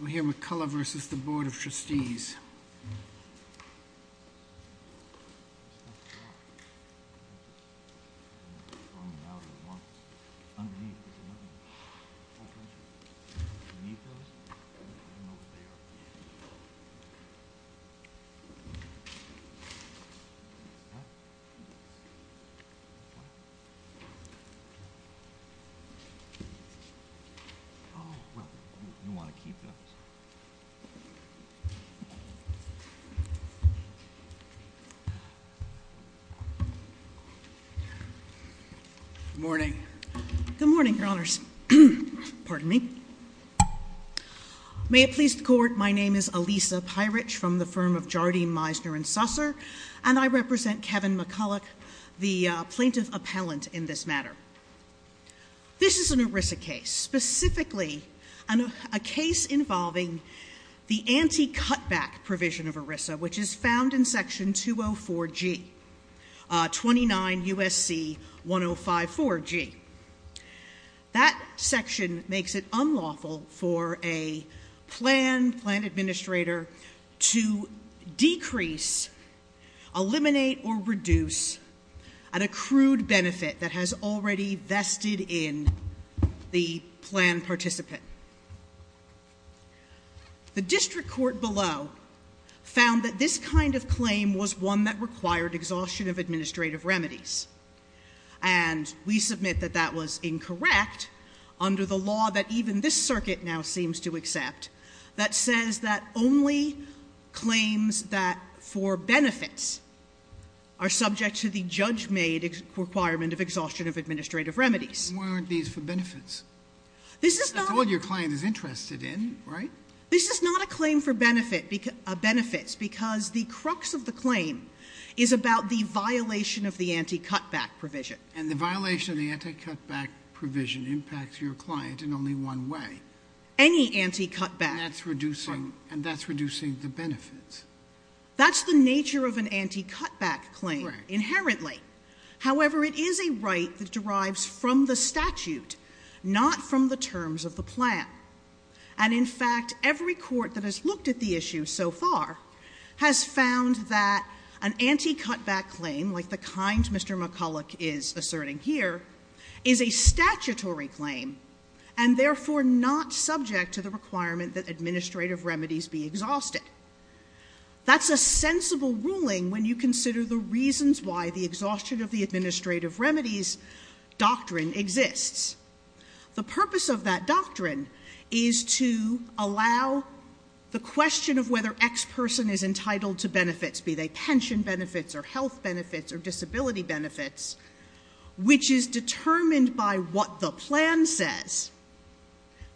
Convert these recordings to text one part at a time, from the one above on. We're here with Culloch v. Board of Trustees Good morning. Good morning, Your Honors. Pardon me. May it please the Court, my name is Alisa Pyrich from the firm of Jardine, Meisner & Susser, and I represent Kevin McCulloch, the plaintiff the anti-cutback provision of ERISA, which is found in section 204G, 29 U.S.C. 1054G. That section makes it unlawful for a plan administrator to decrease, eliminate, or reduce an accrued benefit that has already vested in the plan participant. The district court below found that this kind of claim was one that required exhaustion of administrative remedies and we submit that that was incorrect under the law that even this circuit now seems to accept that says that only claims that for benefits are subject to the judge-made requirement of exhaustion of administrative remedies. Why aren't these for benefits? That's all your client is interested in, right? This is not a claim for benefits because the crux of the claim is about the violation of the anti-cutback provision. And the violation of the anti-cutback provision impacts your client in only one way. Any anti-cutback. And that's reducing the benefits. That's the nature of an anti-cutback claim, inherently. However, it is a right that derives from the statute, not from the terms of the plan. And in fact, every court that has looked at the issue so far has found that an anti-cutback claim, like the kind Mr. McCulloch is asserting here, is a statutory claim and therefore not subject to the requirement that administrative remedies be exhausted. That's a sensible ruling when you consider the reasons why the exhaustion of the administrative remedies doctrine exists. The purpose of that doctrine is to allow the question of whether X person is entitled to benefits, be they pension benefits or health benefits or disability benefits, which is determined by what the plan says,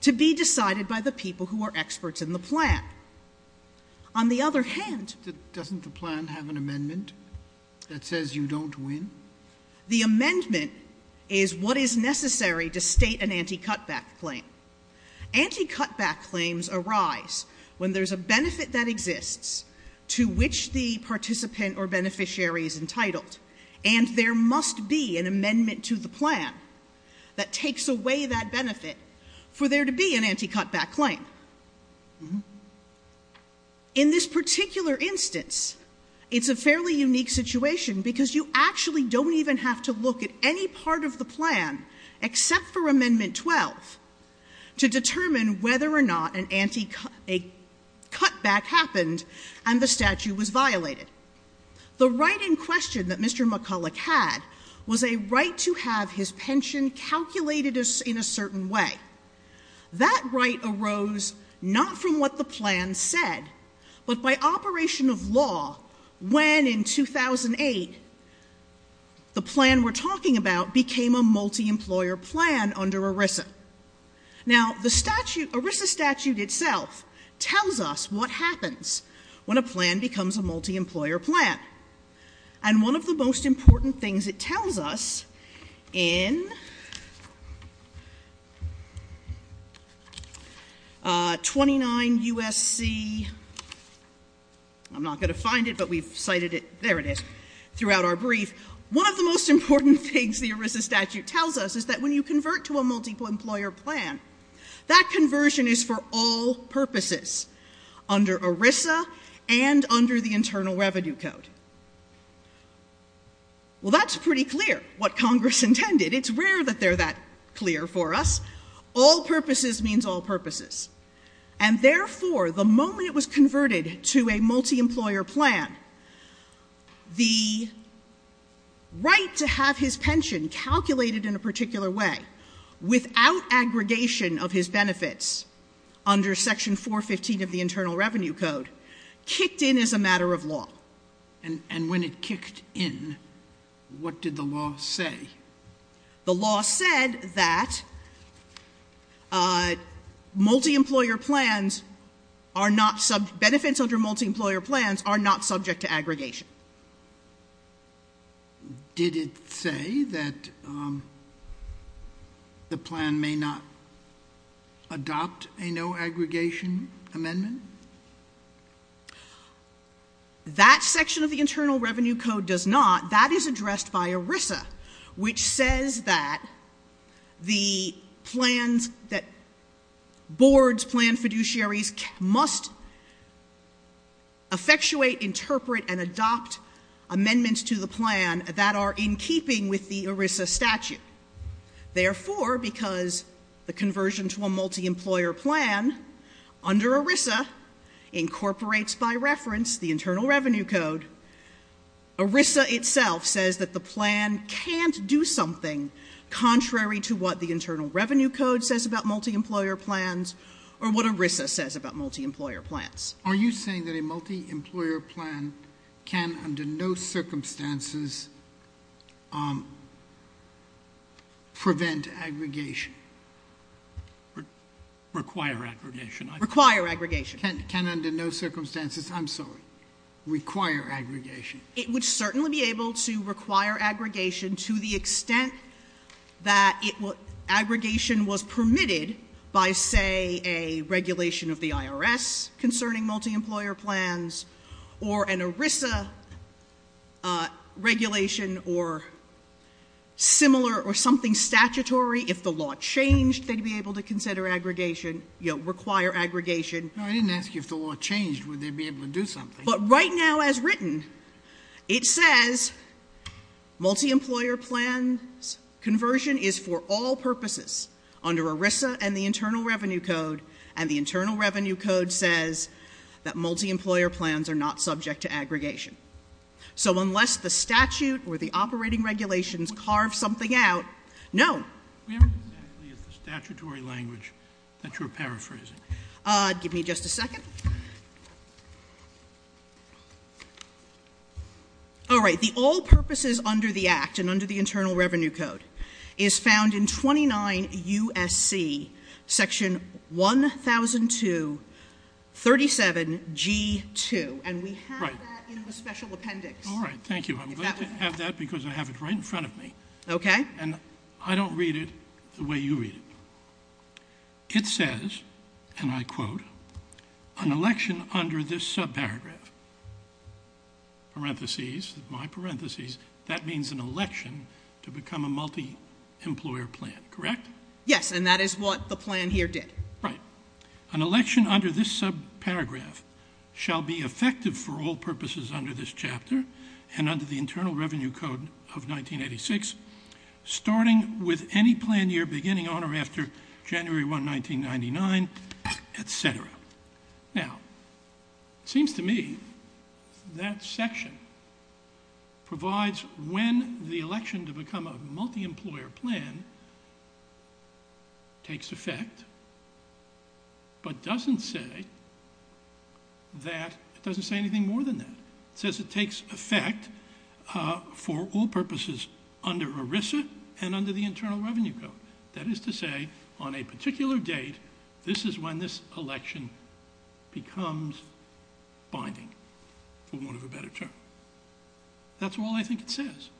to be decided by the people who are experts in the plan. On the other hand... Doesn't the plan have an amendment that says you don't win? The amendment is what is necessary to state an anti-cutback claim. Anti-cutback claims arise when there's a benefit that exists to which the participant or beneficiary is entitled and there must be an amendment to the plan that takes away that benefit for there to be an anti-cutback claim. In this particular instance, it's a fairly unique situation because you actually don't even have to look at any part of the plan except for Amendment 12 to determine whether or not a cutback happened and the statute was violated. The right in question that Mr. McCulloch had was a right to have his pension calculated in a certain way. That right arose not from what the plan said but by operation of law when in 2008 the plan we're talking about became a multi-employer plan under ERISA. Now, the ERISA statute itself tells us what happens when a plan becomes a multi-employer plan and one of the most important things it tells us in 29 U.S.C. I'm not going to find it but we've cited it, there it is, throughout our brief. One of the most important things the ERISA statute tells us is that when you convert to a multi-employer plan that conversion is for all purposes under ERISA and under the Internal Revenue Code. Well, that's pretty clear what Congress intended. It's rare that they're that clear for us. All purposes means all purposes. And therefore, the moment it was converted to a multi-employer plan, the right to have his pension calculated in a particular way without aggregation of his benefits under Section 415 of the Internal Revenue Code kicked in as a matter of law. And when it kicked in, what did the law say? The law said that benefits under multi-employer plans are not subject to aggregation. Did it say that the plan may not adopt a no-aggregation amendment? That section of the Internal Revenue Code does not. That is addressed by ERISA, which says that the plans that boards, plan fiduciaries, must effectuate, interpret, and adopt amendments to the plan that are in keeping with the ERISA statute. Therefore, because the conversion to a multi-employer plan under ERISA incorporates, by reference, the Internal Revenue Code, ERISA itself says that the plan can't do something contrary to what the Internal Revenue Code says about multi-employer plans or what ERISA says about multi-employer plans. Are you saying that a multi-employer plan can under no circumstances prevent aggregation? Require aggregation. Require aggregation. Can under no circumstances, I'm sorry, require aggregation? It would certainly be able to require aggregation to the extent that aggregation was permitted by, say, a regulation of the IRS concerning multi-employer plans or an ERISA regulation or similar or something statutory. If the law changed, they'd be able to consider aggregation, you know, require aggregation. No, I didn't ask you if the law changed, would they be able to do something? But right now, as written, it says multi-employer plans, conversion is for all purposes under ERISA and the Internal Revenue Code, and the Internal Revenue Code says that multi-employer plans are not subject to aggregation. So unless the statute or the operating regulations carve something out, no. We haven't exactly used the statutory language that you're paraphrasing. Give me just a second. All right. The all purposes under the Act and under the Internal Revenue Code is found in 29 U.S.C. Section 1002-37-G2, and we have that in the special appendix. All right. Thank you. I'm glad to have that because I have it right in front of me. Okay. And I don't read it the way you read it. It says, and I quote, an election under this subparagraph, parentheses, my parentheses, that means an election to become a multi-employer plan, correct? Yes, and that is what the plan here did. Right. An election under this subparagraph shall be effective for all purposes under this chapter and under the Internal Revenue Code of 1986 starting with any plan year beginning on or after January 1, 1999, et cetera. Now, it seems to me that section provides when the election to become a multi-employer plan takes effect but doesn't say that, it doesn't say anything more than that. It says it takes effect for all purposes under ERISA and under the Internal Revenue Code. That is to say, on a particular date, this is when this election becomes binding, for want of a better term. That's all I think it says.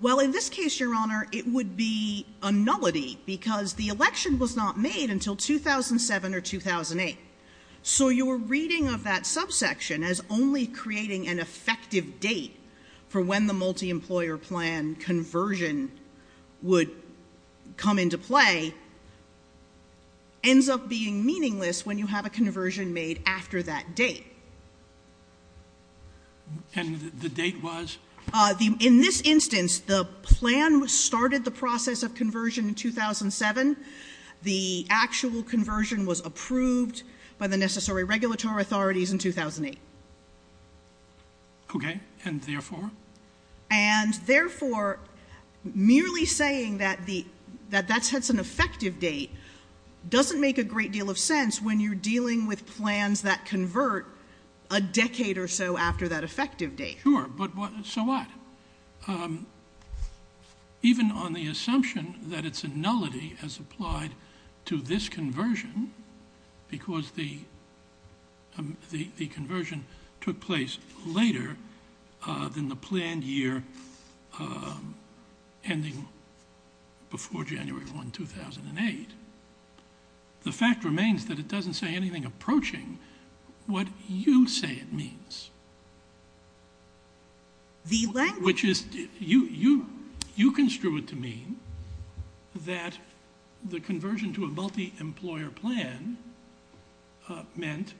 Well, in this case, Your Honor, it would be a nullity because the election was not made until 2007 or 2008. So your reading of that subsection as only creating an effective date for when the multi-employer plan conversion would come into play ends up being meaningless when you have a conversion made after that date. And the date was? In this instance, the plan started the process of conversion in 2007. The actual conversion was approved by the necessary regulatory authorities in 2008. Okay, and therefore? And therefore, merely saying that that's an effective date doesn't make a great deal of sense when you're dealing with plans that convert a decade or so after that effective date. Sure, but so what? Even on the assumption that it's a nullity as applied to this conversion, because the conversion took place later than the planned year ending before January 1, 2008, the fact remains that it doesn't say anything approaching what you say it means. The language... Which is, you construe it to mean that the conversion to a multi-employer plan meant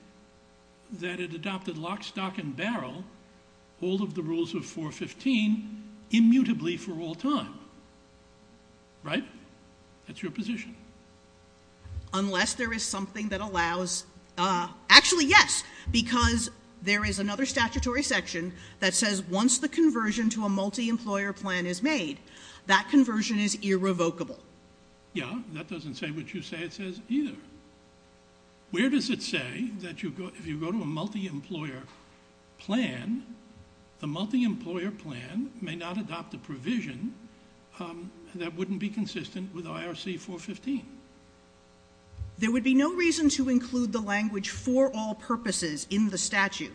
that it adopted lock, stock, and barrel, all of the rules of 415, immutably for all time. Right? That's your position. Unless there is something that allows... Actually, yes, because there is another statutory section that says once the conversion to a multi-employer plan is made, that conversion is irrevocable. Yeah, that doesn't say what you say it says either. Where does it say that if you go to a multi-employer plan, the multi-employer plan may not adopt a provision that wouldn't be consistent with IRC 415? There would be no reason to include the language for all purposes in the statute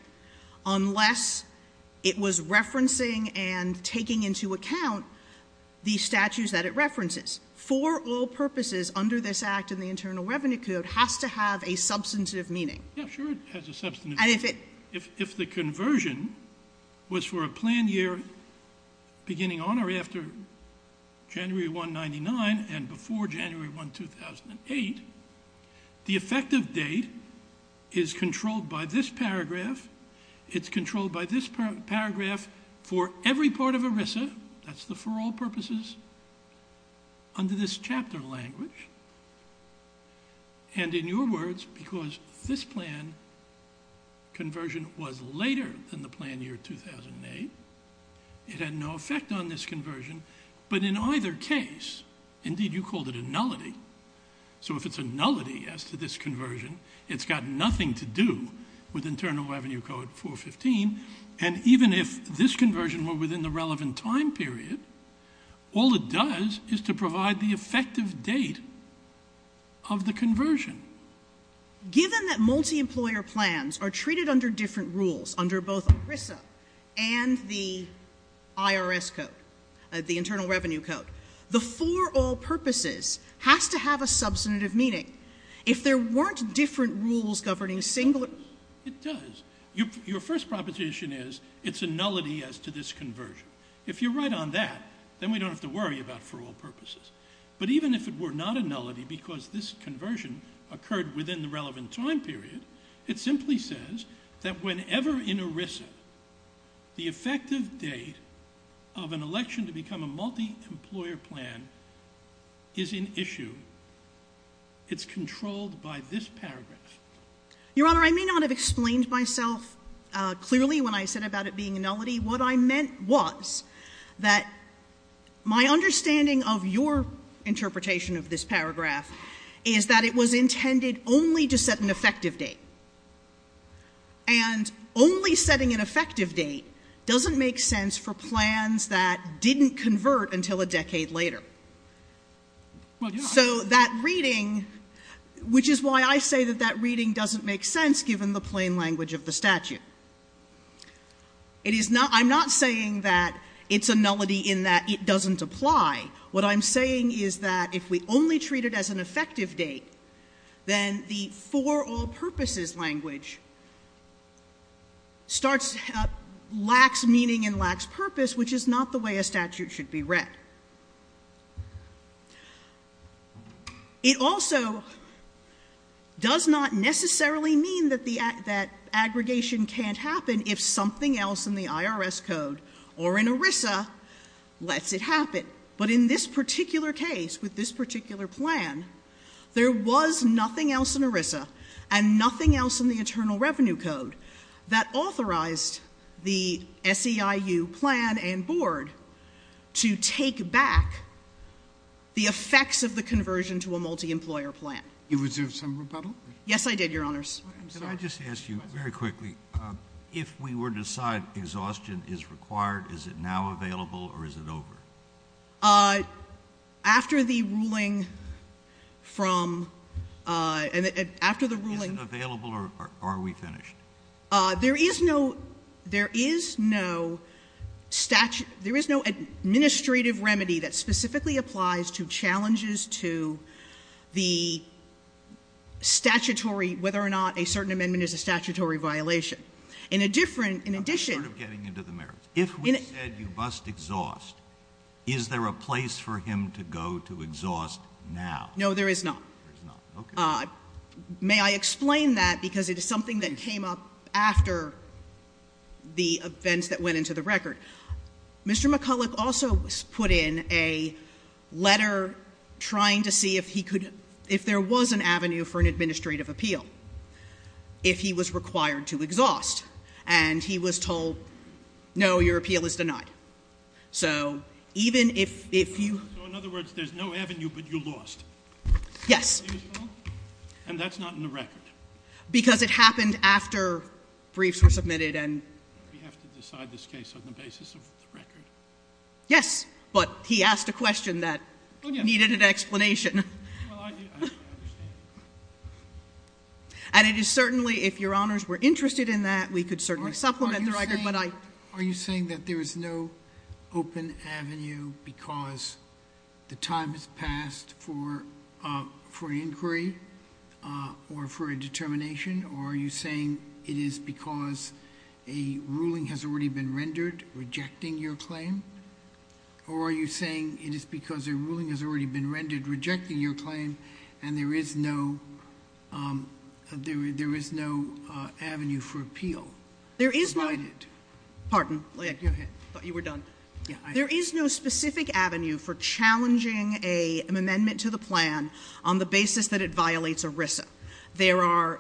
unless it was referencing and taking into account the statutes that it references. For all purposes, under this Act and the Internal Revenue Code, it has to have a substantive meaning. Yeah, sure, it has a substantive meaning. If the conversion was for a planned year beginning on or after January 1, 1999 and before January 1, 2008, the effective date is controlled by this paragraph. It's controlled by this paragraph for every part of ERISA. That's the for all purposes under this chapter language. In your words, because this plan conversion was later than the planned year 2008, it had no effect on this conversion, but in either case, indeed, you called it a nullity. If it's a nullity as to this conversion, it's got nothing to do with Internal Revenue Code 415. Even if this conversion were within the relevant time period, all it does is to provide the effective date of the conversion. Given that multi-employer plans are treated under different rules, under both ERISA and the IRS Code, the Internal Revenue Code, the for all purposes has to have a substantive meaning. If there weren't different rules governing singular— It does. Your first proposition is it's a nullity as to this conversion. If you're right on that, then we don't have to worry about for all purposes. But even if it were not a nullity because this conversion occurred within the relevant time period, it simply says that whenever in ERISA, the effective date of an election to become a multi-employer plan is in issue, it's controlled by this paragraph. Your Honor, I may not have explained myself clearly when I said about it being a nullity. What I meant was that my understanding of your interpretation of this paragraph is that it was intended only to set an effective date. And only setting an effective date doesn't make sense for plans that didn't convert until a decade later. So that reading, which is why I say that that reading doesn't make sense, given the plain language of the statute. I'm not saying that it's a nullity in that it doesn't apply. What I'm saying is that if we only treat it as an effective date, then the for all purposes language lacks meaning and lacks purpose, which is not the way a statute should be read. It also does not necessarily mean that aggregation can't happen if something else in the IRS code or in ERISA lets it happen. But in this particular case, with this particular plan, there was nothing else in ERISA and nothing else in the Internal Revenue Code that authorized the SEIU plan and board to take back the effects of the conversion to a multi-employer plan. You reserved some rebuttal? Yes, I did, Your Honors. Can I just ask you very quickly, if we were to decide exhaustion is required, is it now available or is it over? After the ruling from... Is it available or are we finished? There is no administrative remedy that specifically applies to challenges to the statutory, whether or not a certain amendment is a statutory violation. In a different, in addition... I'm sort of getting into the merits. If we said you must exhaust, is there a place for him to go to exhaust now? No, there is not. There is not. Okay. Now, may I explain that? Because it is something that came up after the events that went into the record. Mr. McCulloch also put in a letter trying to see if he could, if there was an avenue for an administrative appeal, if he was required to exhaust. And he was told, no, your appeal is denied. So even if you... So in other words, there's no avenue, but you lost. Yes. And that's not in the record. Because it happened after briefs were submitted and... We have to decide this case on the basis of the record. Yes, but he asked a question that needed an explanation. Well, I understand. And it is certainly, if Your Honors were interested in that, we could certainly supplement the record, but I... Are you saying that there is no open avenue because the time has passed for an inquiry or for a determination? Or are you saying it is because a ruling has already been rendered rejecting your claim? Or are you saying it is because a ruling has already been rendered rejecting your claim and there is no avenue for appeal? There is no... Pardon. Go ahead. I thought you were done. There is no specific avenue for challenging an amendment to the plan on the basis that it violates ERISA. There are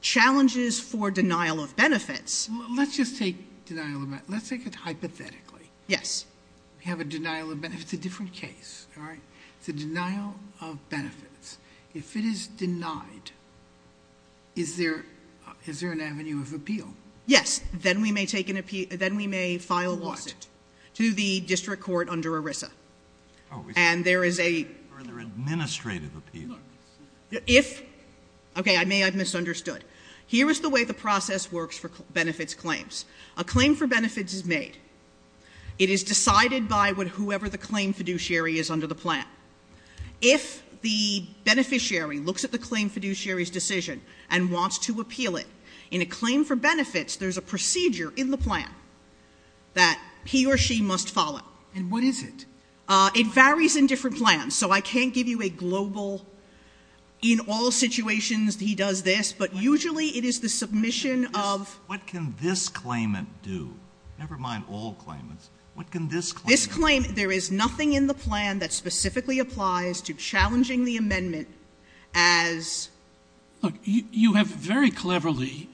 challenges for denial of benefits. Let's just take denial of benefits. Let's take it hypothetically. Yes. We have a denial of benefits. It's a different case, all right? It's a denial of benefits. If it is denied, is there an avenue of appeal? Yes. Then we may take an appeal. Then we may file a lawsuit. To what? To the district court under ERISA. Oh. And there is a... Further administrative appeal. If... Okay. I may have misunderstood. Here is the way the process works for benefits claims. A claim for benefits is made. It is decided by whoever the claim fiduciary is under the plan. If the beneficiary looks at the claim fiduciary's decision and wants to appeal it, in a claim for benefits there is a procedure in the plan that he or she must follow. And what is it? It varies in different plans. So I can't give you a global in all situations he does this, but usually it is the submission of... What can this claimant do? Never mind all claimants. What can this claimant do? This claimant, there is nothing in the plan that specifically applies to challenging the amendment as... Look, you have very cleverly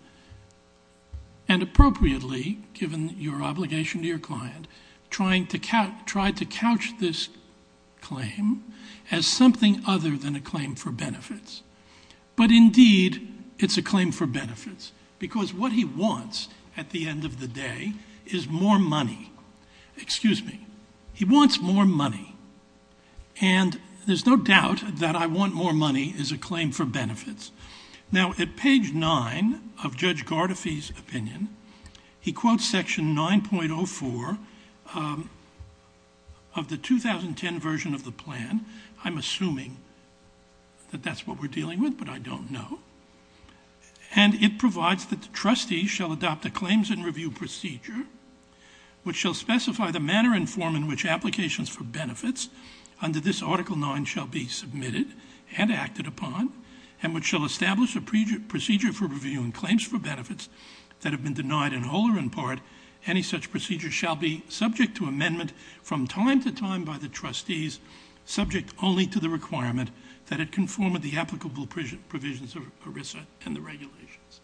and appropriately, given your obligation to your client, tried to couch this claim as something other than a claim for benefits. But, indeed, it's a claim for benefits. Because what he wants at the end of the day is more money. Excuse me. He wants more money. And there's no doubt that I want more money is a claim for benefits. Now, at page 9 of Judge Gardefee's opinion, he quotes section 9.04 of the 2010 version of the plan. I'm assuming that that's what we're dealing with, but I don't know. And it provides that the trustees shall adopt a claims and review procedure, which shall specify the manner and form in which applications for benefits under this article 9 shall be submitted and acted upon, and which shall establish a procedure for reviewing claims for benefits that have been denied in whole or in part. Any such procedure shall be subject to amendment from time to time by the trustees, subject only to the requirement that it conform with the applicable provisions of ERISA and the regulations.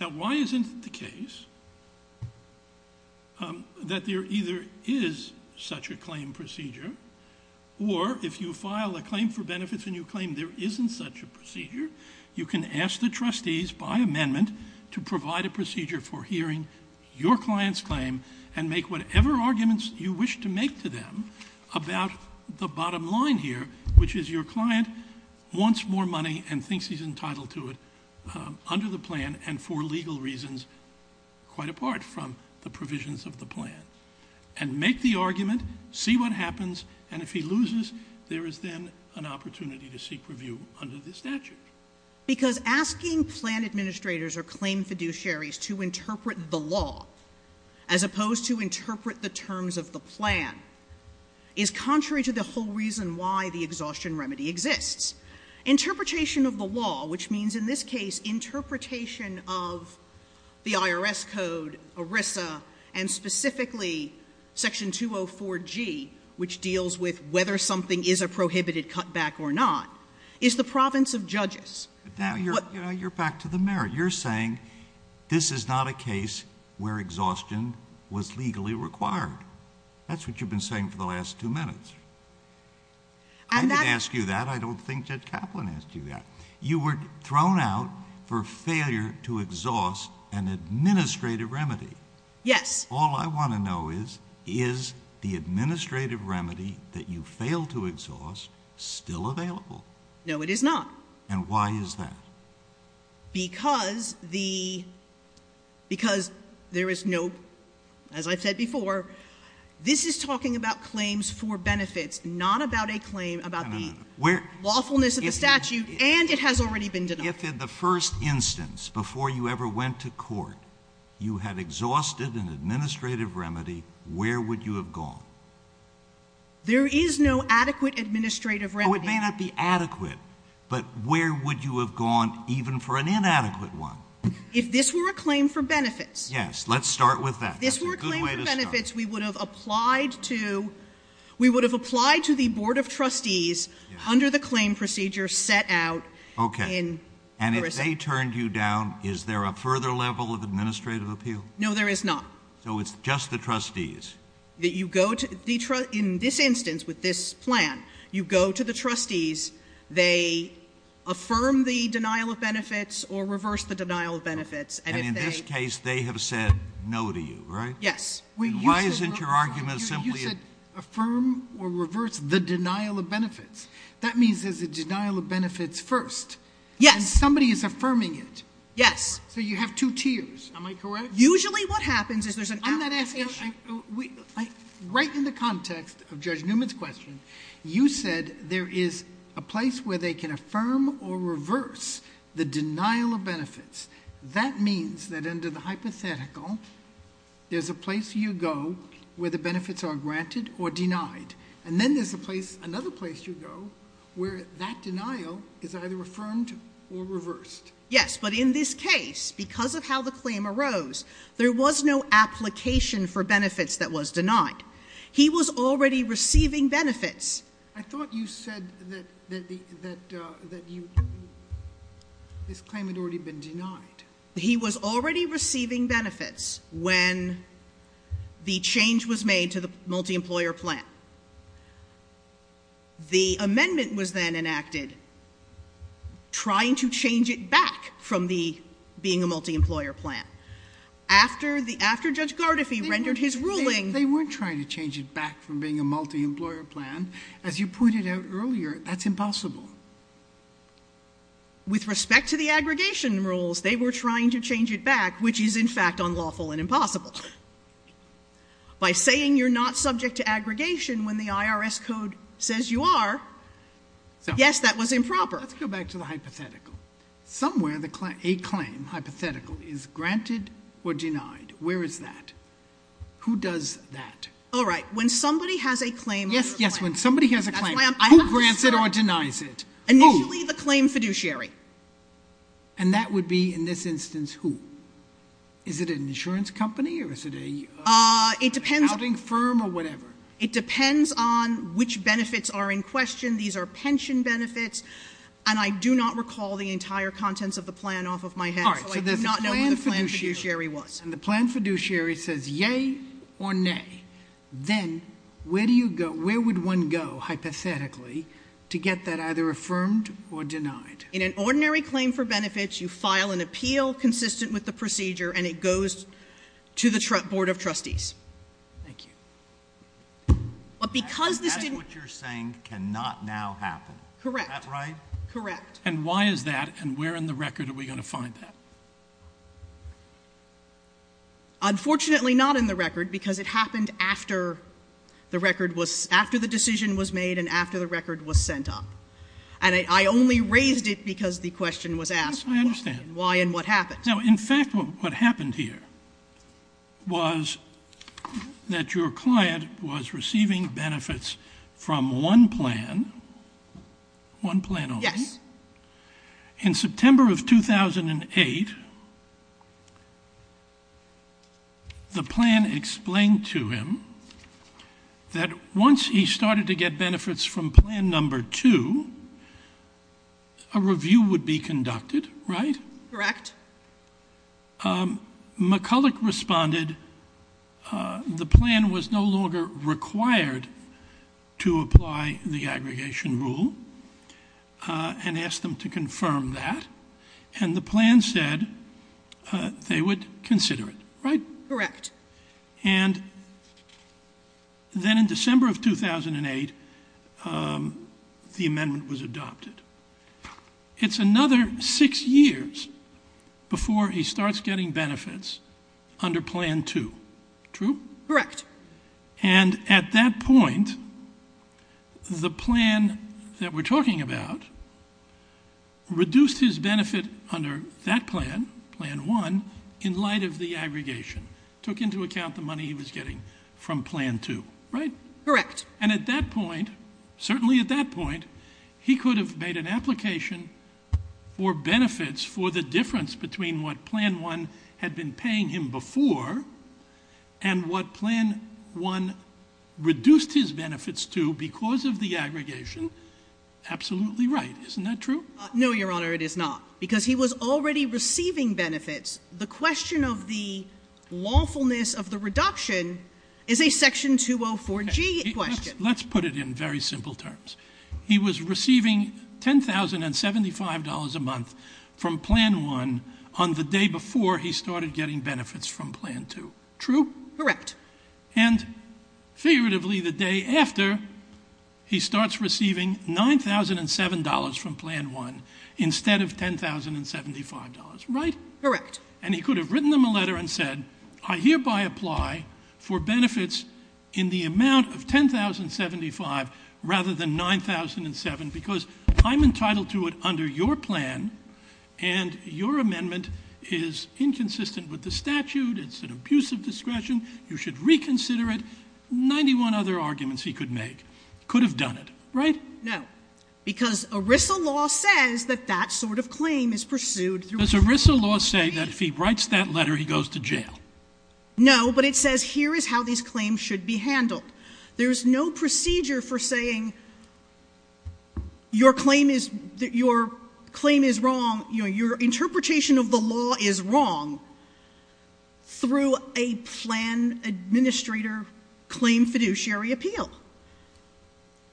Now, why isn't it the case that there either is such a claim procedure, or if you file a claim for benefits and you claim there isn't such a procedure, you can ask the trustees, by amendment, to provide a procedure for hearing your client's claim and make whatever arguments you wish to make to them about the bottom line here, which is your client wants more money and thinks he's entitled to it under the plan and for legal reasons quite apart from the provisions of the plan. And make the argument, see what happens, and if he loses, there is then an opportunity to seek review under the statute. Because asking plan administrators or claim fiduciaries to interpret the law as opposed to interpret the terms of the plan is contrary to the whole reason why the exhaustion remedy exists. Interpretation of the law, which means in this case interpretation of the IRS code, ERISA, and specifically Section 204G, which deals with whether something is a prohibited cutback or not, is the province of judges. Now, you're back to the merit. You're saying this is not a case where exhaustion was legally required. That's what you've been saying for the last two minutes. I didn't ask you that. I don't think Judge Kaplan asked you that. You were thrown out for failure to exhaust an administrative remedy. Yes. All I want to know is, is the administrative remedy that you failed to exhaust still available? No, it is not. And why is that? Because there is no, as I've said before, this is talking about claims for benefits, not about a claim about the lawfulness of the statute, and it has already been denied. If in the first instance, before you ever went to court, you had exhausted an administrative remedy, where would you have gone? There is no adequate administrative remedy. Oh, it may not be adequate, but where would you have gone even for an inadequate one? If this were a claim for benefits. Yes, let's start with that. That's a good way to start. If this were a claim for benefits, we would have applied to the Board of Trustees under the claim procedure set out in the RISA. And if they turned you down, is there a further level of administrative appeal? No, there is not. So it's just the trustees? In this instance, with this plan, you go to the trustees, they affirm the denial of benefits or reverse the denial of benefits. And in this case, they have said no to you, right? Yes. Why isn't your argument simply? You said affirm or reverse the denial of benefits. That means there's a denial of benefits first. Yes. And somebody is affirming it. Yes. So you have two tiers. Am I correct? Usually what happens is there's an outcome. I'm not asking you. Right in the context of Judge Newman's question, you said there is a place where they can affirm or reverse the denial of benefits. That means that under the hypothetical, there's a place you go where the benefits are granted or denied. And then there's another place you go where that denial is either affirmed or reversed. Yes, but in this case, because of how the claim arose, there was no application for benefits that was denied. He was already receiving benefits. I thought you said that this claim had already been denied. He was already receiving benefits when the change was made to the multi-employer plan. The amendment was then enacted trying to change it back from being a multi-employer plan. After Judge Gardefee rendered his ruling. They weren't trying to change it back from being a multi-employer plan. As you pointed out earlier, that's impossible. With respect to the aggregation rules, they were trying to change it back, which is in fact unlawful and impossible. By saying you're not subject to aggregation when the IRS code says you are, yes, that was improper. Let's go back to the hypothetical. Somewhere a claim, hypothetical, is granted or denied. Where is that? Who does that? All right. When somebody has a claim on their plan. Yes, when somebody has a claim. Who grants it or denies it? Initially the claim fiduciary. And that would be in this instance who? Is it an insurance company or is it an accounting firm or whatever? It depends on which benefits are in question. These are pension benefits. And I do not recall the entire contents of the plan off of my head. So I do not know who the plan fiduciary was. And the plan fiduciary says yay or nay. Then where would one go, hypothetically, to get that either affirmed or denied? In an ordinary claim for benefits, you file an appeal consistent with the procedure and it goes to the Board of Trustees. Thank you. That's what you're saying cannot now happen. Correct. Is that right? Correct. And why is that and where in the record are we going to find that? Unfortunately, not in the record, because it happened after the decision was made and after the record was sent up. And I only raised it because the question was asked. Yes, I understand. Why and what happened? In fact, what happened here was that your client was receiving benefits from one plan, one plan only. Yes. In September of 2008, the plan explained to him that once he started to get benefits from plan number two, a review would be conducted, right? Correct. McCulloch responded the plan was no longer required to apply the aggregation rule. And asked them to confirm that. And the plan said they would consider it, right? Correct. And then in December of 2008, the amendment was adopted. It's another six years before he starts getting benefits under plan two. True? Correct. And at that point, the plan that we're talking about reduced his benefit under that plan, plan one, in light of the aggregation. Took into account the money he was getting from plan two, right? Correct. And at that point, certainly at that point, he could have made an application for benefits for the difference between what plan one had been paying him before and what plan one reduced his benefits to because of the aggregation. Absolutely right. Isn't that true? No, Your Honor, it is not. Because he was already receiving benefits. The question of the lawfulness of the reduction is a section 204G question. Let's put it in very simple terms. He was receiving $10,075 a month from plan one on the day before he started getting benefits from plan two. True? Correct. And figuratively, the day after, he starts receiving $9,007 from plan one instead of $10,075. Right? Correct. And he could have written them a letter and said, I hereby apply for benefits in the amount of $10,075 rather than $9,007 because I'm entitled to it under your plan and your amendment is inconsistent with the statute. It's an abuse of discretion. You should reconsider it. Ninety-one other arguments he could make. Could have done it. Right? No. Because ERISA law says that that sort of claim is pursued. Does ERISA law say that if he writes that letter, he goes to jail? No, but it says here is how these claims should be handled. There is no procedure for saying your claim is wrong, your interpretation of the law is wrong through a plan administrator claim fiduciary appeal.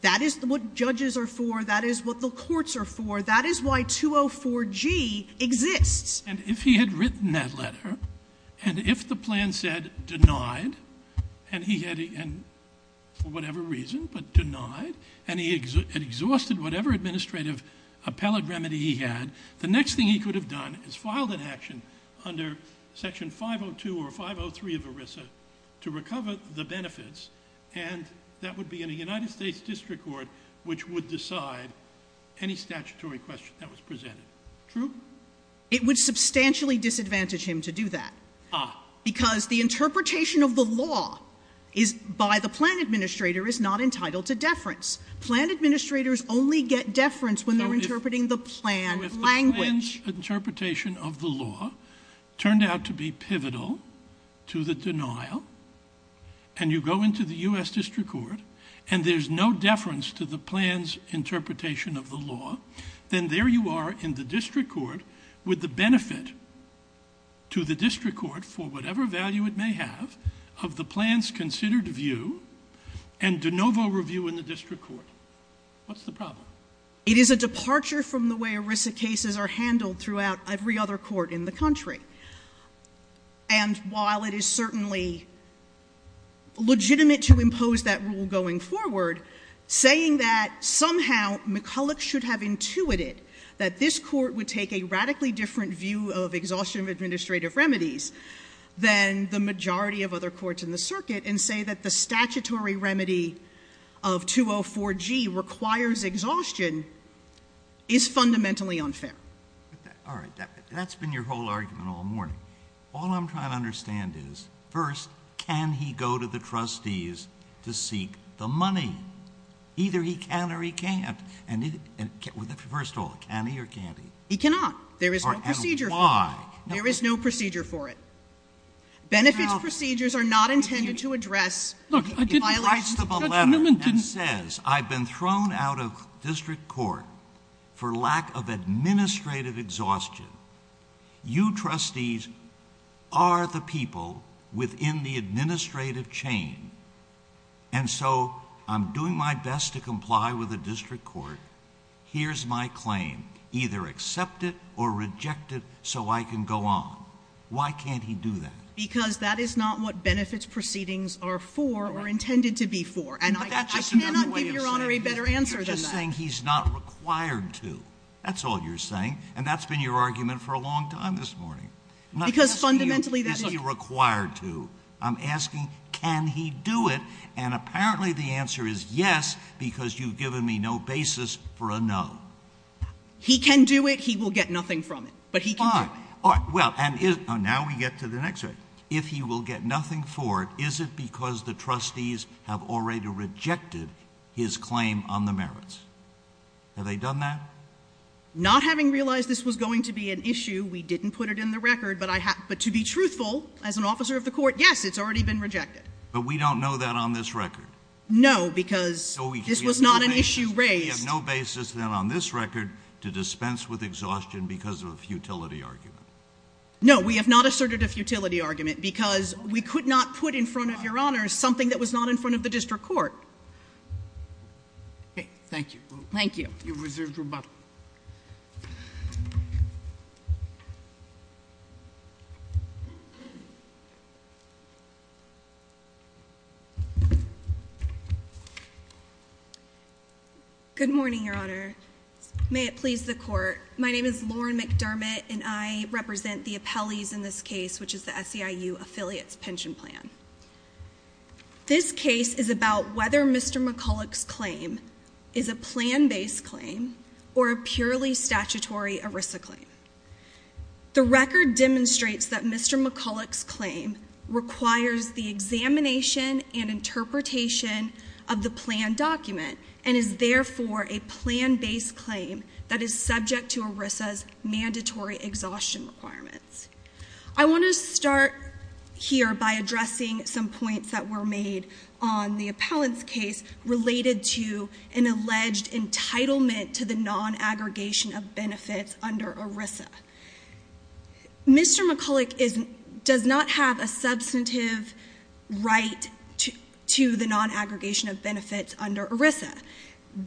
That is what judges are for. That is what the courts are for. That is why 204G exists. And if he had written that letter, and if the plan said denied, and he had, for whatever reason, but denied, and he had exhausted whatever administrative appellate remedy he had, the next thing he could have done is filed an action under section 502 or 503 of ERISA to recover the benefits, and that would be in a United States district court which would decide any statutory question that was presented. True? It would substantially disadvantage him to do that. Ah. Because the interpretation of the law by the plan administrator is not entitled to deference. Plan administrators only get deference when they're interpreting the plan language. So if the plan's interpretation of the law turned out to be pivotal to the denial, and you go into the U.S. district court, and there's no deference to the plan's interpretation of the law, then there you are in the district court with the benefit to the district court for whatever value it may have of the plan's considered view and de novo review in the district court. What's the problem? It is a departure from the way ERISA cases are handled throughout every other court in the country. And while it is certainly legitimate to impose that rule going forward, saying that somehow McCulloch should have intuited that this court would take a radically different view of exhaustion of administrative remedies than the majority of other courts in the circuit and say that the statutory remedy of 204G requires exhaustion is fundamentally unfair. All right. That's been your whole argument all morning. All I'm trying to understand is, first, can he go to the trustees to seek the money? Either he can or he can't. And first of all, can he or can't he? He cannot. There is no procedure for it. And why? There is no procedure for it. Benefits procedures are not intended to address the violation. He writes to the letter and says, I've been thrown out of district court for lack of administrative exhaustion. You trustees are the people within the administrative chain. And so I'm doing my best to comply with the district court. Here's my claim. Either accept it or reject it so I can go on. Why can't he do that? Because that is not what benefits proceedings are for or intended to be for. And I cannot give Your Honor a better answer than that. You're just saying he's not required to. That's all you're saying. And that's been your argument for a long time this morning. Because fundamentally that is not true. Is he required to? I'm asking, can he do it? And apparently the answer is yes, because you've given me no basis for a no. He can do it. He will get nothing from it. But he can do it. Now we get to the next argument. If he will get nothing for it, is it because the trustees have already rejected his claim on the merits? Have they done that? Not having realized this was going to be an issue, we didn't put it in the record. But to be truthful, as an officer of the court, yes, it's already been rejected. But we don't know that on this record. No, because this was not an issue raised. We have no basis then on this record to dispense with exhaustion because of a futility argument. No, we have not asserted a futility argument because we could not put in front of your honors something that was not in front of the district court. Okay, thank you. Thank you. You've reserved your button. Good morning, Your Honor. May it please the court. My name is Lauren McDermott, and I represent the appellees in this case, which is the SEIU Affiliates Pension Plan. This case is about whether Mr. McCulloch's claim is a plan-based claim or a purely statutory ERISA claim. The record demonstrates that Mr. McCulloch's claim requires the examination and interpretation of the plan document and is therefore a plan-based claim that is subject to ERISA's mandatory exhaustion requirements. I want to start here by addressing some points that were made on the appellant's case related to an alleged entitlement to the non-aggregation of benefits under ERISA. Mr. McCulloch does not have a substantive right to the non-aggregation of benefits under ERISA.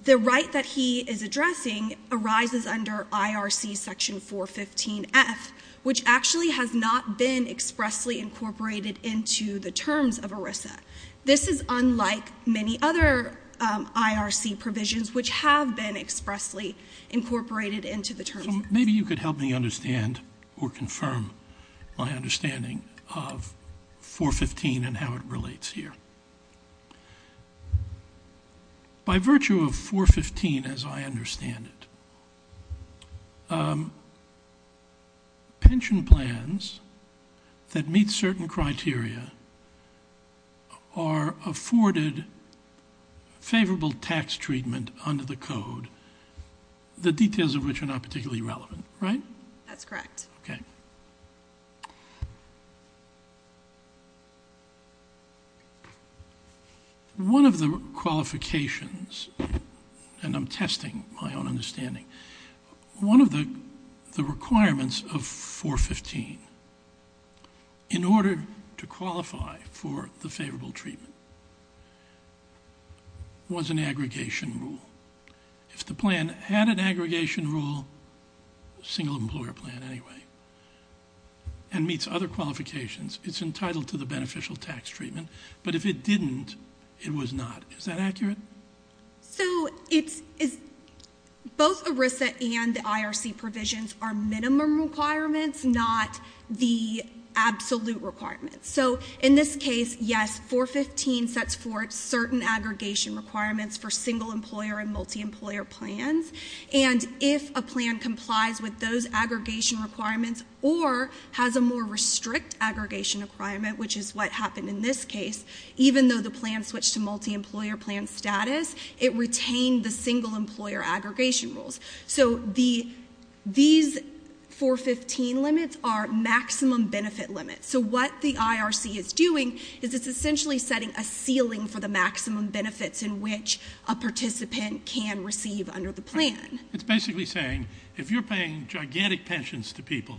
The right that he is addressing arises under IRC section 415F, which actually has not been expressly incorporated into the terms of ERISA. This is unlike many other IRC provisions, which have been expressly incorporated into the terms. Maybe you could help me understand or confirm my understanding of 415 and how it relates here. By virtue of 415, as I understand it, pension plans that meet certain criteria are afforded favorable tax treatment under the code, the details of which are not particularly relevant, right? That's correct. Okay. One of the qualifications, and I'm testing my own understanding, one of the requirements of 415 in order to qualify for the favorable treatment was an aggregation rule. If the plan had an aggregation rule, single employer plan anyway, and meets other qualifications, it's entitled to the beneficial tax treatment, but if it didn't, it was not. Is that accurate? Both ERISA and the IRC provisions are minimum requirements, not the absolute requirements. In this case, yes, 415 sets forth certain aggregation requirements for single employer and multi-employer plans. If a plan complies with those aggregation requirements or has a more restrict aggregation requirement, which is what happened in this case, even though the plan switched to multi-employer plan status, it retained the single employer aggregation rules. These 415 limits are maximum benefit limits. What the IRC is doing is it's essentially setting a ceiling for the maximum benefits in which a participant can receive under the plan. It's basically saying if you're paying gigantic pensions to people,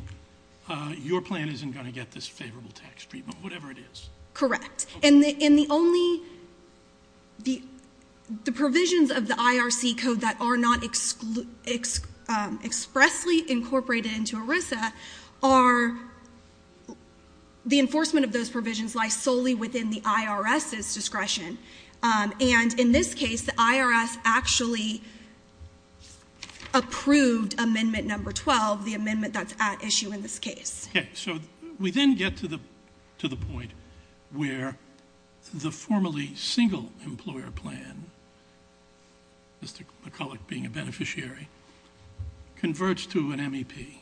your plan isn't going to get this favorable tax treatment, whatever it is. Correct. And the only, the provisions of the IRC code that are not expressly incorporated into ERISA are, the enforcement of those provisions lie solely within the IRS's discretion. And in this case, the IRS actually approved amendment number 12, the amendment that's at issue in this case. Okay. So we then get to the point where the formerly single employer plan, Mr. McCulloch being a beneficiary, converts to an MEP.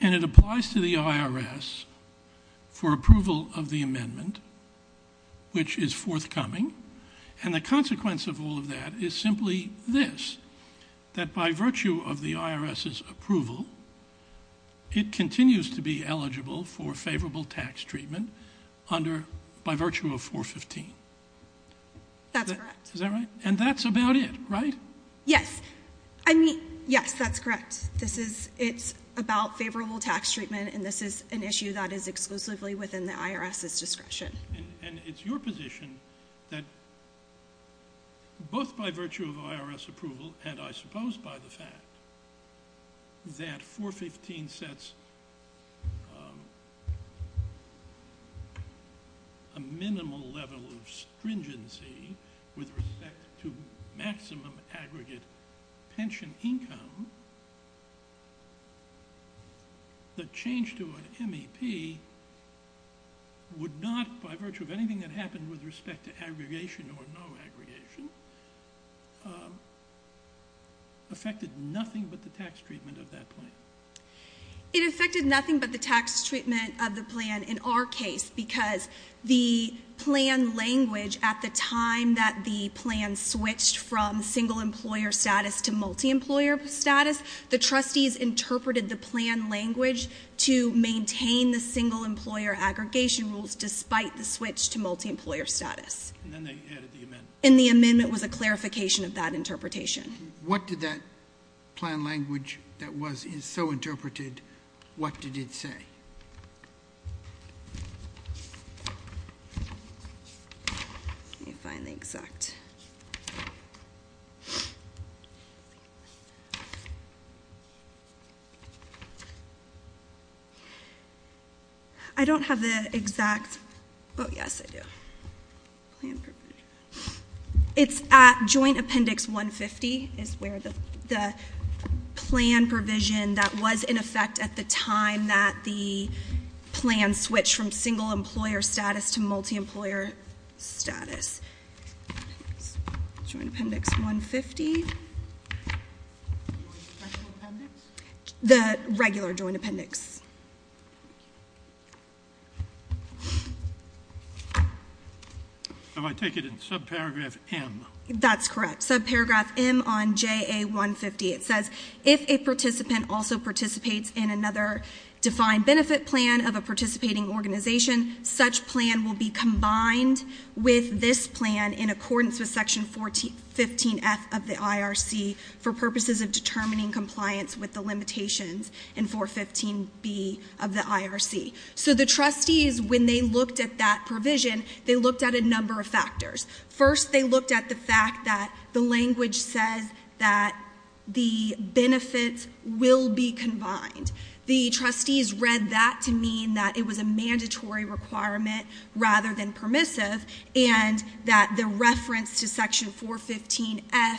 And it applies to the IRS for approval of the amendment, which is forthcoming. And the consequence of all of that is simply this, that by virtue of the IRS's approval, it continues to be eligible for favorable tax treatment under, by virtue of 415. That's correct. Is that right? And that's about it, right? Yes. I mean, yes, that's correct. This is, it's about favorable tax treatment, and this is an issue that is exclusively within the IRS's discretion. And it's your position that both by virtue of IRS approval, and I suppose by the fact that 415 sets a minimal level of stringency with respect to maximum aggregate pension income, the change to an MEP would not, by virtue of anything that happened with respect to aggregation or no aggregation, affected nothing but the tax treatment of that plan. It affected nothing but the tax treatment of the plan in our case, because the plan language at the time that the plan switched from single employer status to multi-employer status, the trustees interpreted the plan language to maintain the single employer aggregation rules despite the switch to multi-employer status. And then they added the amendment. And the amendment was a clarification of that interpretation. What did that plan language that was so interpreted, what did it say? Let me find the exact. I don't have the exact. Oh, yes, I do. It's at joint appendix 150 is where the plan provision that was in effect at the time that the plan switched from single employer status to multi-employer status. Joint appendix 150. The regular joint appendix. If I take it in subparagraph M. That's correct. Subparagraph M on JA 150, it says, if a participant also participates in another defined benefit plan of a participating organization, such plan will be combined with this plan in accordance with section 415F of the IRC for purposes of determining compliance with the limitations in 415B of the IRC. So the trustees, when they looked at that provision, they looked at a number of factors. First, they looked at the fact that the language says that the benefits will be combined. The trustees read that to mean that it was a mandatory requirement rather than permissive, and that the reference to section 415F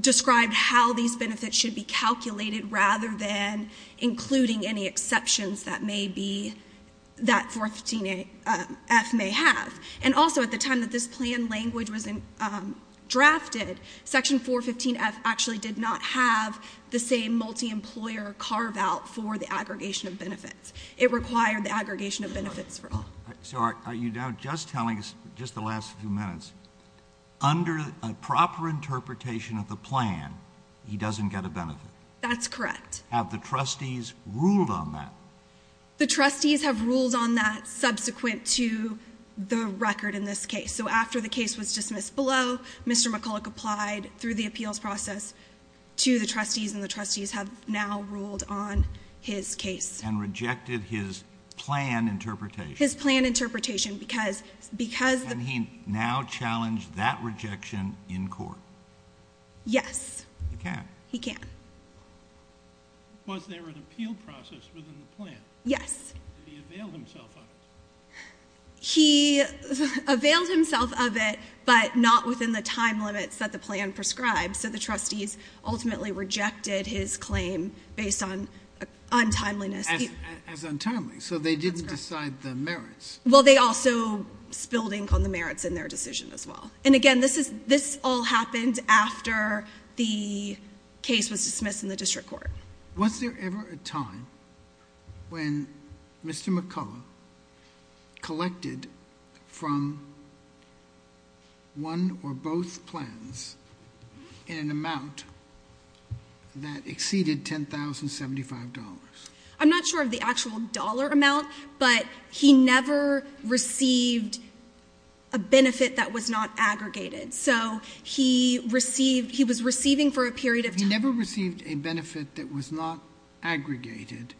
described how these benefits should be calculated rather than including any exceptions that 415F may have. And also, at the time that this plan language was drafted, section 415F actually did not have the same multi-employer carve-out for the aggregation of benefits. It required the aggregation of benefits. So are you now just telling us, just the last few minutes, under a proper interpretation of the plan, he doesn't get a benefit? That's correct. Have the trustees ruled on that? The trustees have ruled on that subsequent to the record in this case. So after the case was dismissed below, Mr. McCulloch applied through the appeals process to the trustees, and the trustees have now ruled on his case. And rejected his plan interpretation? His plan interpretation, because— Can he now challenge that rejection in court? Yes. He can? He can. Was there an appeal process within the plan? Yes. Did he avail himself of it? He availed himself of it, but not within the time limits that the plan prescribed. So the trustees ultimately rejected his claim based on untimeliness. As untimely, so they didn't decide the merits. Well, they also spilled ink on the merits in their decision as well. And again, this all happened after the case was dismissed in the district court. Was there ever a time when Mr. McCulloch collected from one or both plans in an amount that exceeded $10,075? I'm not sure of the actual dollar amount, but he never received a benefit that was not aggregated. So he received, he was receiving for a period of time— He never received a benefit that was not aggregated,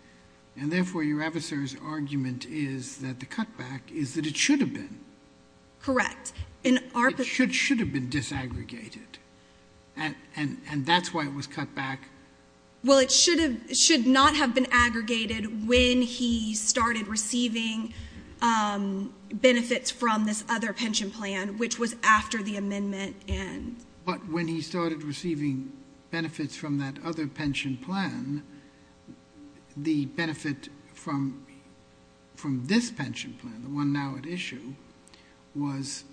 and therefore your adversary's argument is that the cutback is that it should have been. Correct. It should have been disaggregated. And that's why it was cut back? Well, it should not have been aggregated when he started receiving benefits from this other pension plan, which was after the amendment. But when he started receiving benefits from that other pension plan, the benefit from this pension plan, the one now at issue, was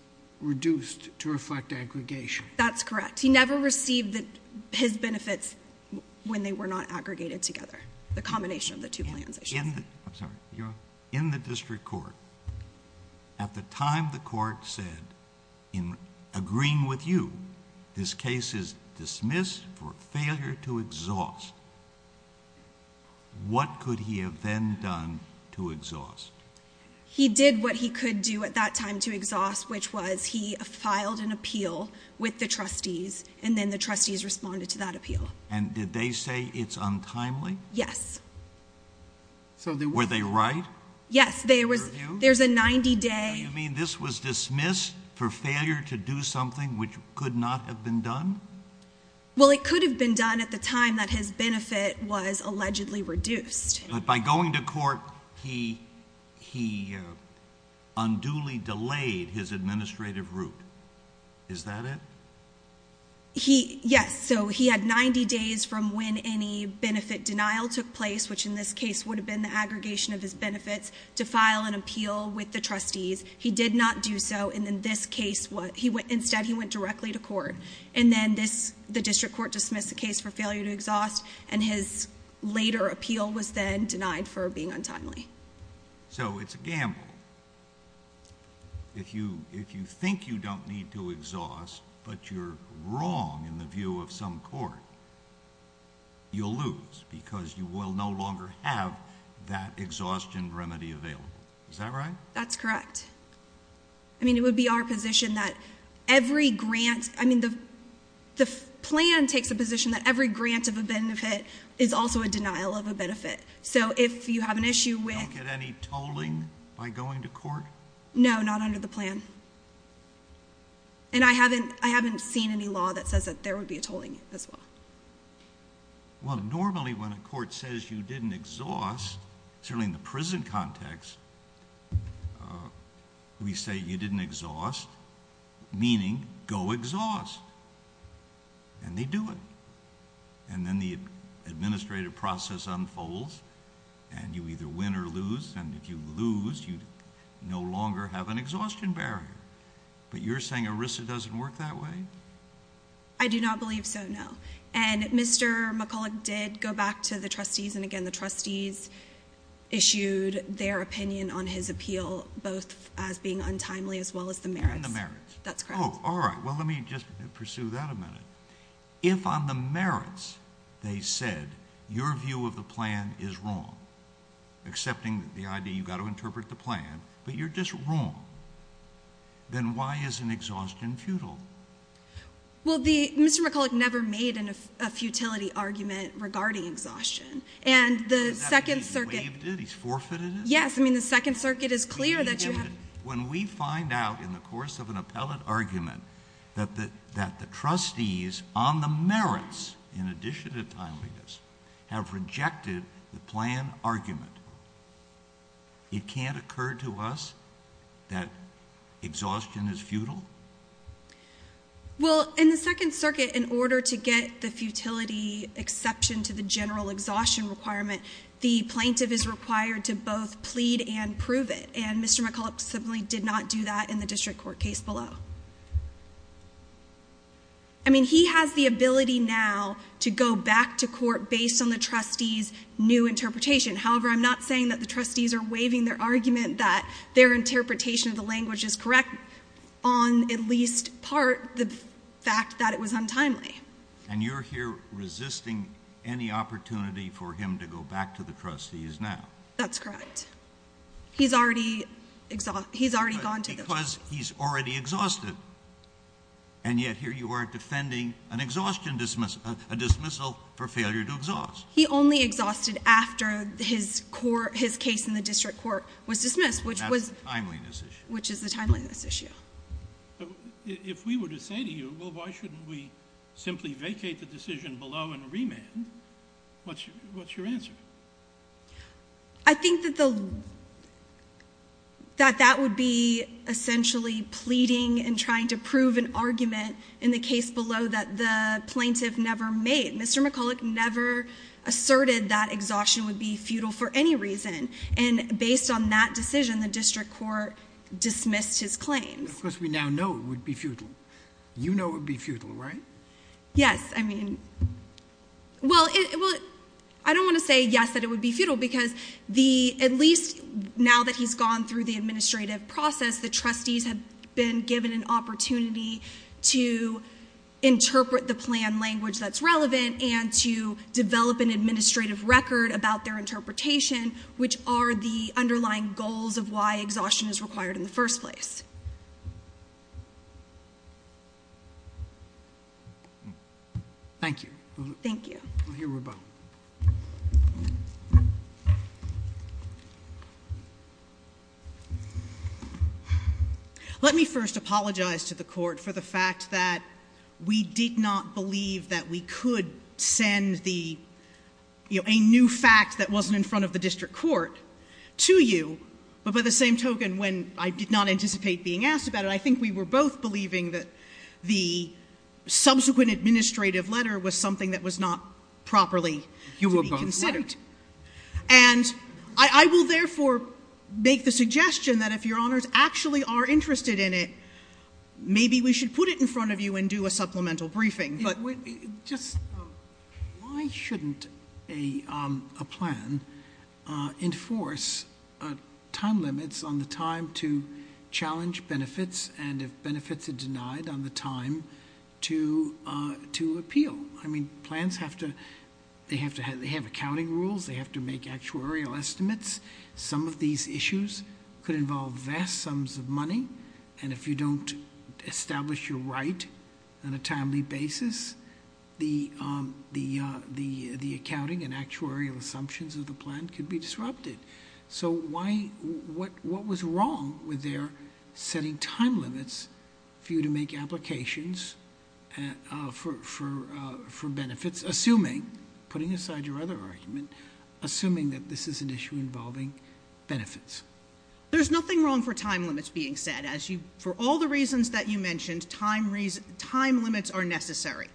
reduced to reflect aggregation. That's correct. He never received his benefits when they were not aggregated together, the combination of the two plans. I'm sorry. You're on. In the district court, at the time the court said, in agreeing with you, this case is dismissed for failure to exhaust, what could he have then done to exhaust? He did what he could do at that time to exhaust, which was he filed an appeal with the trustees, and then the trustees responded to that appeal. And did they say it's untimely? Yes. Were they right? Yes. There's a 90-day— You mean this was dismissed for failure to do something which could not have been done? Well, it could have been done at the time that his benefit was allegedly reduced. But by going to court, he unduly delayed his administrative route. Is that it? Yes. So he had 90 days from when any benefit denial took place, which in this case would have been the aggregation of his benefits, to file an appeal with the trustees. He did not do so. Instead, he went directly to court. And then the district court dismissed the case for failure to exhaust, and his later appeal was then denied for being untimely. So it's a gamble. If you think you don't need to exhaust, but you're wrong in the view of some court, you'll lose because you will no longer have that exhaustion remedy available. Is that right? That's correct. I mean, it would be our position that every grant—I mean, the plan takes a position that every grant of a benefit is also a denial of a benefit. So if you have an issue with— You don't get any tolling by going to court? No, not under the plan. And I haven't seen any law that says that there would be a tolling as well. Well, normally when a court says you didn't exhaust, certainly in the prison context, we say you didn't exhaust, meaning go exhaust. And they do it. And then the administrative process unfolds, and you either win or lose, and if you lose, you no longer have an exhaustion barrier. But you're saying ERISA doesn't work that way? I do not believe so, no. And Mr. McCulloch did go back to the trustees, and again, the trustees issued their opinion on his appeal, both as being untimely as well as the merits. And the merits. That's correct. Oh, all right. Well, let me just pursue that a minute. If on the merits they said your view of the plan is wrong, accepting the idea you've got to interpret the plan, but you're just wrong, then why is an exhaustion futile? Well, Mr. McCulloch never made a futility argument regarding exhaustion. Is that why he waived it? He's forfeited it? Yes. I mean, the Second Circuit is clear that you have— When we find out in the course of an appellate argument that the trustees on the merits, in addition to timeliness, have rejected the plan argument, it can't occur to us that exhaustion is futile? Well, in the Second Circuit, in order to get the futility exception to the general exhaustion requirement, the plaintiff is required to both plead and prove it. And Mr. McCulloch simply did not do that in the district court case below. I mean, he has the ability now to go back to court based on the trustees' new interpretation. However, I'm not saying that the trustees are waiving their argument that their interpretation of the language is correct on at least part the fact that it was untimely. And you're here resisting any opportunity for him to go back to the trustees now? That's correct. He's already gone to the— Because he's already exhausted, and yet here you are defending an exhaustion dismissal, a dismissal for failure to exhaust. He only exhausted after his case in the district court was dismissed, which was— And that's the timeliness issue. Which is the timeliness issue. If we were to say to you, well, why shouldn't we simply vacate the decision below and remand, what's your answer? I think that that would be essentially pleading and trying to prove an argument in the case below that the plaintiff never made. Mr. McCulloch never asserted that exhaustion would be futile for any reason. And based on that decision, the district court dismissed his claim. Because we now know it would be futile. You know it would be futile, right? Yes. Well, I don't want to say, yes, that it would be futile, because at least now that he's gone through the administrative process, the trustees have been given an opportunity to interpret the plan language that's relevant and to develop an administrative record about their interpretation, which are the underlying goals of why exhaustion is required in the first place. Thank you. Thank you. Here we go. Let me first apologize to the court for the fact that we did not believe that we could send the, you know, a new fact that wasn't in front of the district court to you. But by the same token, when I did not anticipate being asked about it, I think we were both believing that the subsequent administrative letter was something that was not properly to be considered. You were both right. And I will therefore make the suggestion that if Your Honors actually are interested in it, maybe we should put it in front of you and do a supplemental briefing. Just why shouldn't a plan enforce time limits on the time to challenge benefits and if benefits are denied on the time to appeal? I mean, plans have to have accounting rules. They have to make actuarial estimates. Some of these issues could involve vast sums of money. And if you don't establish your right on a timely basis, the accounting and actuarial assumptions of the plan could be disrupted. So what was wrong with their setting time limits for you to make applications for benefits, assuming, putting aside your other argument, assuming that this is an issue involving benefits? There's nothing wrong for time limits being set. As you, for all the reasons that you mentioned, time limits are necessary.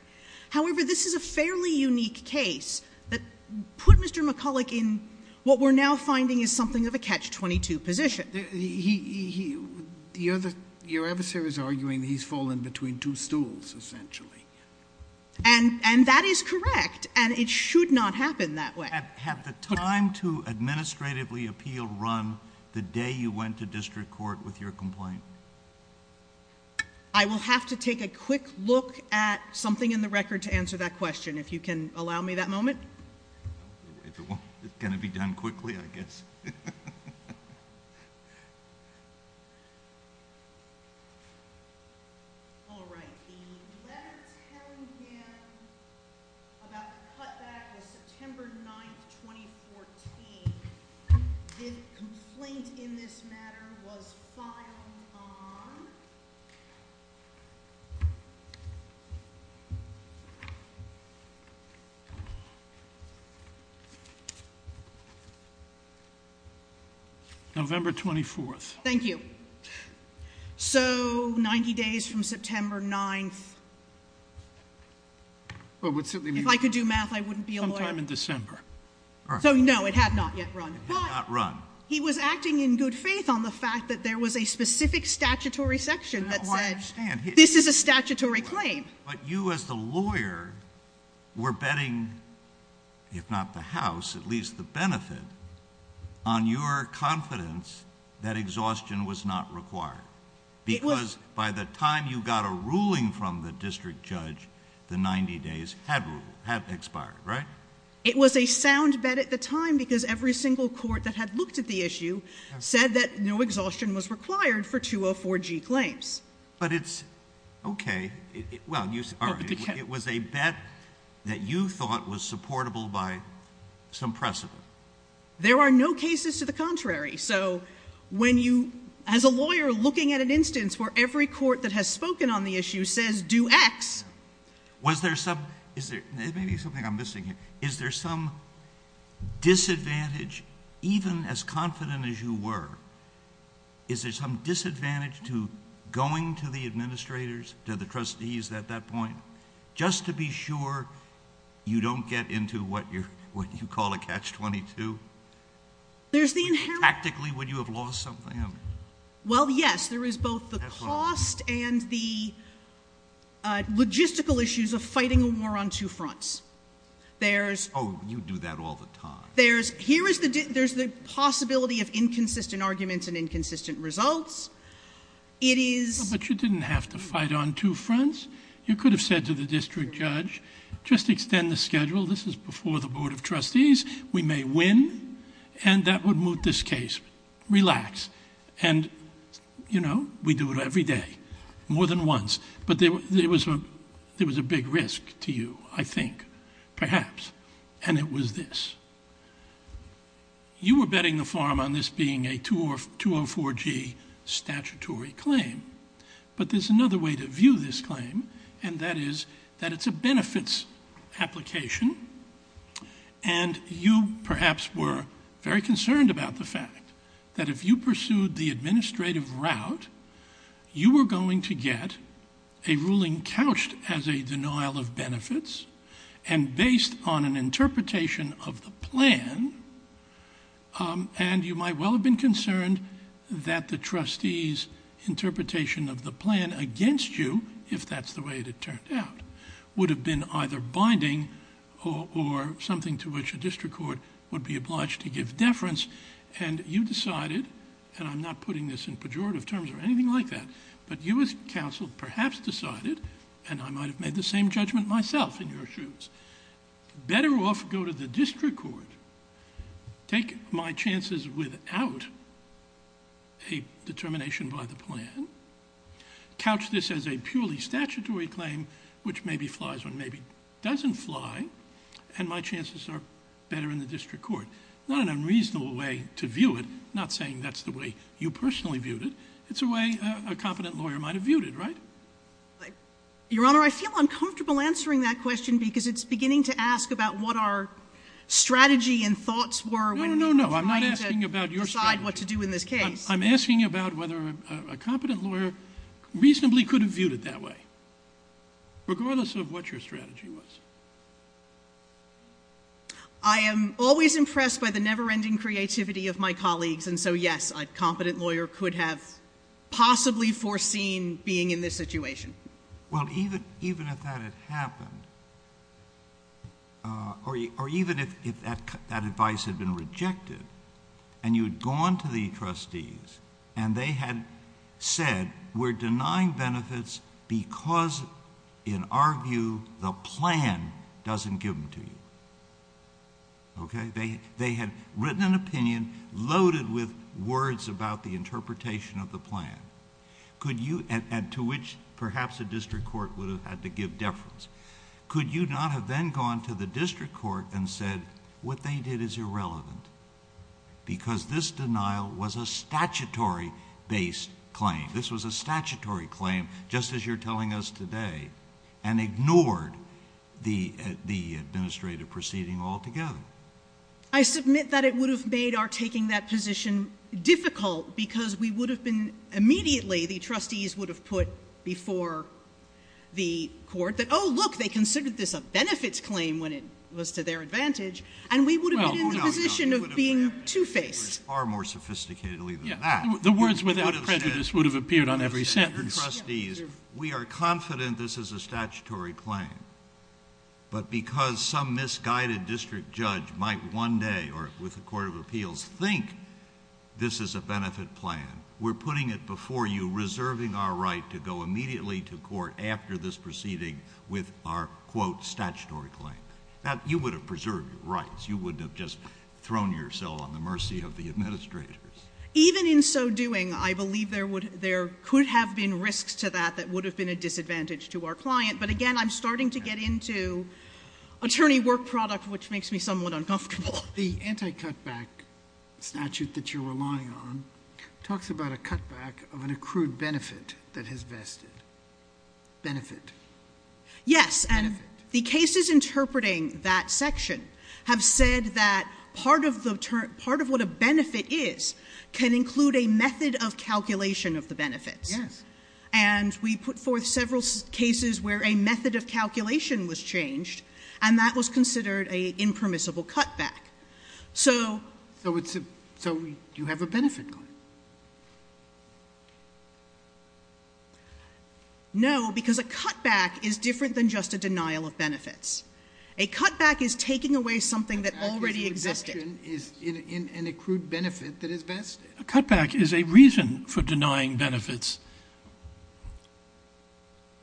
However, this is a fairly unique case that put Mr. McCulloch in what we're now finding is something of a catch-22 position. He, the other, your adversary is arguing he's fallen between two stools, essentially. And that is correct. And it should not happen that way. Have the time to administratively appeal run the day you went to district court with your complaint? I will have to take a quick look at something in the record to answer that question, if you can allow me that moment. If it won't, it's going to be done quickly, I guess. All right. The letter telling him about the cutback was September 9th, 2014. The complaint in this matter was filed on? November 24th. Thank you. So 90 days from September 9th. If I could do math, I wouldn't be a lawyer. Sometime in December. So no, it had not yet run. It had not run. But he was acting in good faith on the fact that there was a specific statutory section that said this is a statutory claim. But you as the lawyer were betting, if not the House, at least the benefit, on your confidence that exhaustion was not required. It was. Because by the time you got a ruling from the district judge, the 90 days had expired, right? It was a sound bet at the time because every single court that had looked at the issue said that no exhaustion was required for 204G claims. But it's okay. Well, it was a bet that you thought was supportable by some precedent. There are no cases to the contrary. So when you, as a lawyer, looking at an instance where every court that has spoken on the issue says do X. Was there some, is there, maybe something I'm missing here, is there some disadvantage, even as confident as you were, is there some disadvantage to going to the administrators, to the trustees at that point, just to be sure you don't get into what you call a catch-22? There's the inherent. Tactically, would you have lost something? Well, yes. There is both the cost and the logistical issues of fighting a war on two fronts. There's. Oh, you do that all the time. There's, here is the, there's the possibility of inconsistent arguments and inconsistent results. It is. But you didn't have to fight on two fronts. You could have said to the district judge, just extend the schedule. This is before the board of trustees. We may win. And that would move this case. Relax. And, you know, we do it every day. More than once. But there was a big risk to you, I think, perhaps. And it was this. You were betting the farm on this being a 204G statutory claim. But there's another way to view this claim. And that is that it's a benefits application. And you, perhaps, were very concerned about the fact that if you pursued the administrative route, you were going to get a ruling couched as a denial of benefits and based on an interpretation of the plan. And you might well have been concerned that the trustees' interpretation of the plan against you, if that's the way it had turned out, would have been either binding or something to which a district court would be obliged to give deference. And you decided, and I'm not putting this in pejorative terms or anything like that, but you as counsel perhaps decided, and I might have made the same judgment myself in your shoes, better off go to the district court, take my chances without a determination by the plan, couch this as a purely statutory claim, which maybe flies or maybe doesn't fly, and my chances are better in the district court. Not an unreasonable way to view it. I'm not saying that's the way you personally viewed it. It's a way a competent lawyer might have viewed it, right? Your Honor, I feel uncomfortable answering that question because it's beginning to ask about what our strategy and thoughts were when we were trying to decide what to do in this case. I'm asking about whether a competent lawyer reasonably could have viewed it that way, regardless of what your strategy was. I am always impressed by the never-ending creativity of my colleagues, and so, yes, a competent lawyer could have possibly foreseen being in this situation. Well, even if that had happened, or even if that advice had been rejected and you had gone to the trustees and they had said, we're denying benefits because, in our view, the plan doesn't give them to you, okay? They had written an opinion loaded with words about the interpretation of the plan, to which perhaps a district court would have had to give deference. Could you not have then gone to the district court and said what they did is irrelevant because this denial was a statutory-based claim? This was a statutory claim, just as you're telling us today, and ignored the administrative proceeding altogether. I submit that it would have made our taking that position difficult because we would have been immediately, the trustees would have put before the court that, oh, look, they considered this a benefits claim when it was to their advantage, and we would have been in the position of being two-faced. The words without prejudice would have appeared on every sentence. We are confident this is a statutory claim, but because some misguided district judge might one day, or with a court of appeals, think this is a benefit plan, we're putting it before you, to go immediately to court after this proceeding with our, quote, statutory claim. Now, you would have preserved your rights. You wouldn't have just thrown yourself on the mercy of the administrators. Even in so doing, I believe there could have been risks to that that would have been a disadvantage to our client, but again, I'm starting to get into attorney work product, which makes me somewhat uncomfortable. The anti-cutback statute that you're relying on talks about a cutback of an accrued benefit that has vested. Benefit. Yes, and the cases interpreting that section have said that part of what a benefit is can include a method of calculation of the benefits. Yes. And we put forth several cases where a method of calculation was changed, and that was considered a impermissible cutback. So you have a benefit claim. No, because a cutback is different than just a denial of benefits. A cutback is taking away something that already existed. A cutback is an exception in an accrued benefit that has vested. A cutback is a reason for denying benefits.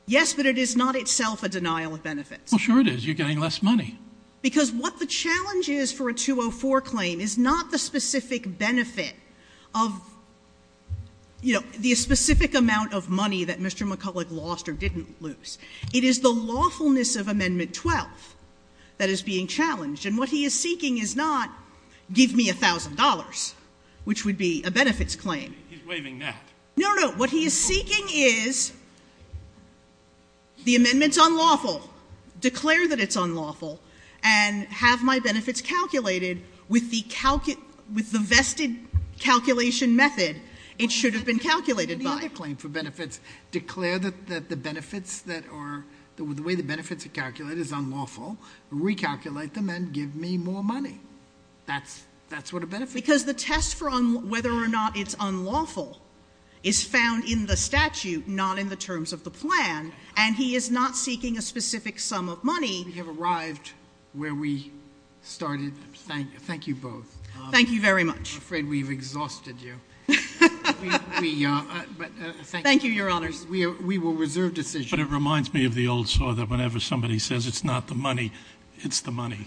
Yes, but it is not itself a denial of benefits. Well, sure it is. You're getting less money. Because what the challenge is for a 204 claim is not the specific benefit of, you know, the specific amount of money that Mr. McCulloch lost or didn't lose. It is the lawfulness of Amendment 12 that is being challenged. And what he is seeking is not give me $1,000, which would be a benefits claim. He's waving that. No, no. What he is seeking is the amendment's unlawful, declare that it's unlawful, and have my benefits calculated with the vested calculation method it should have been calculated by. The other claim for benefits, declare that the way the benefits are calculated is unlawful, recalculate them, and give me more money. That's what a benefit claim is. Because the test for whether or not it's unlawful is found in the statute, not in the terms of the plan. And he is not seeking a specific sum of money. We have arrived where we started. Thank you both. Thank you very much. I'm afraid we've exhausted you. Thank you, Your Honors. We will reserve decisions. But it reminds me of the old story that whenever somebody says it's not the money, it's the money.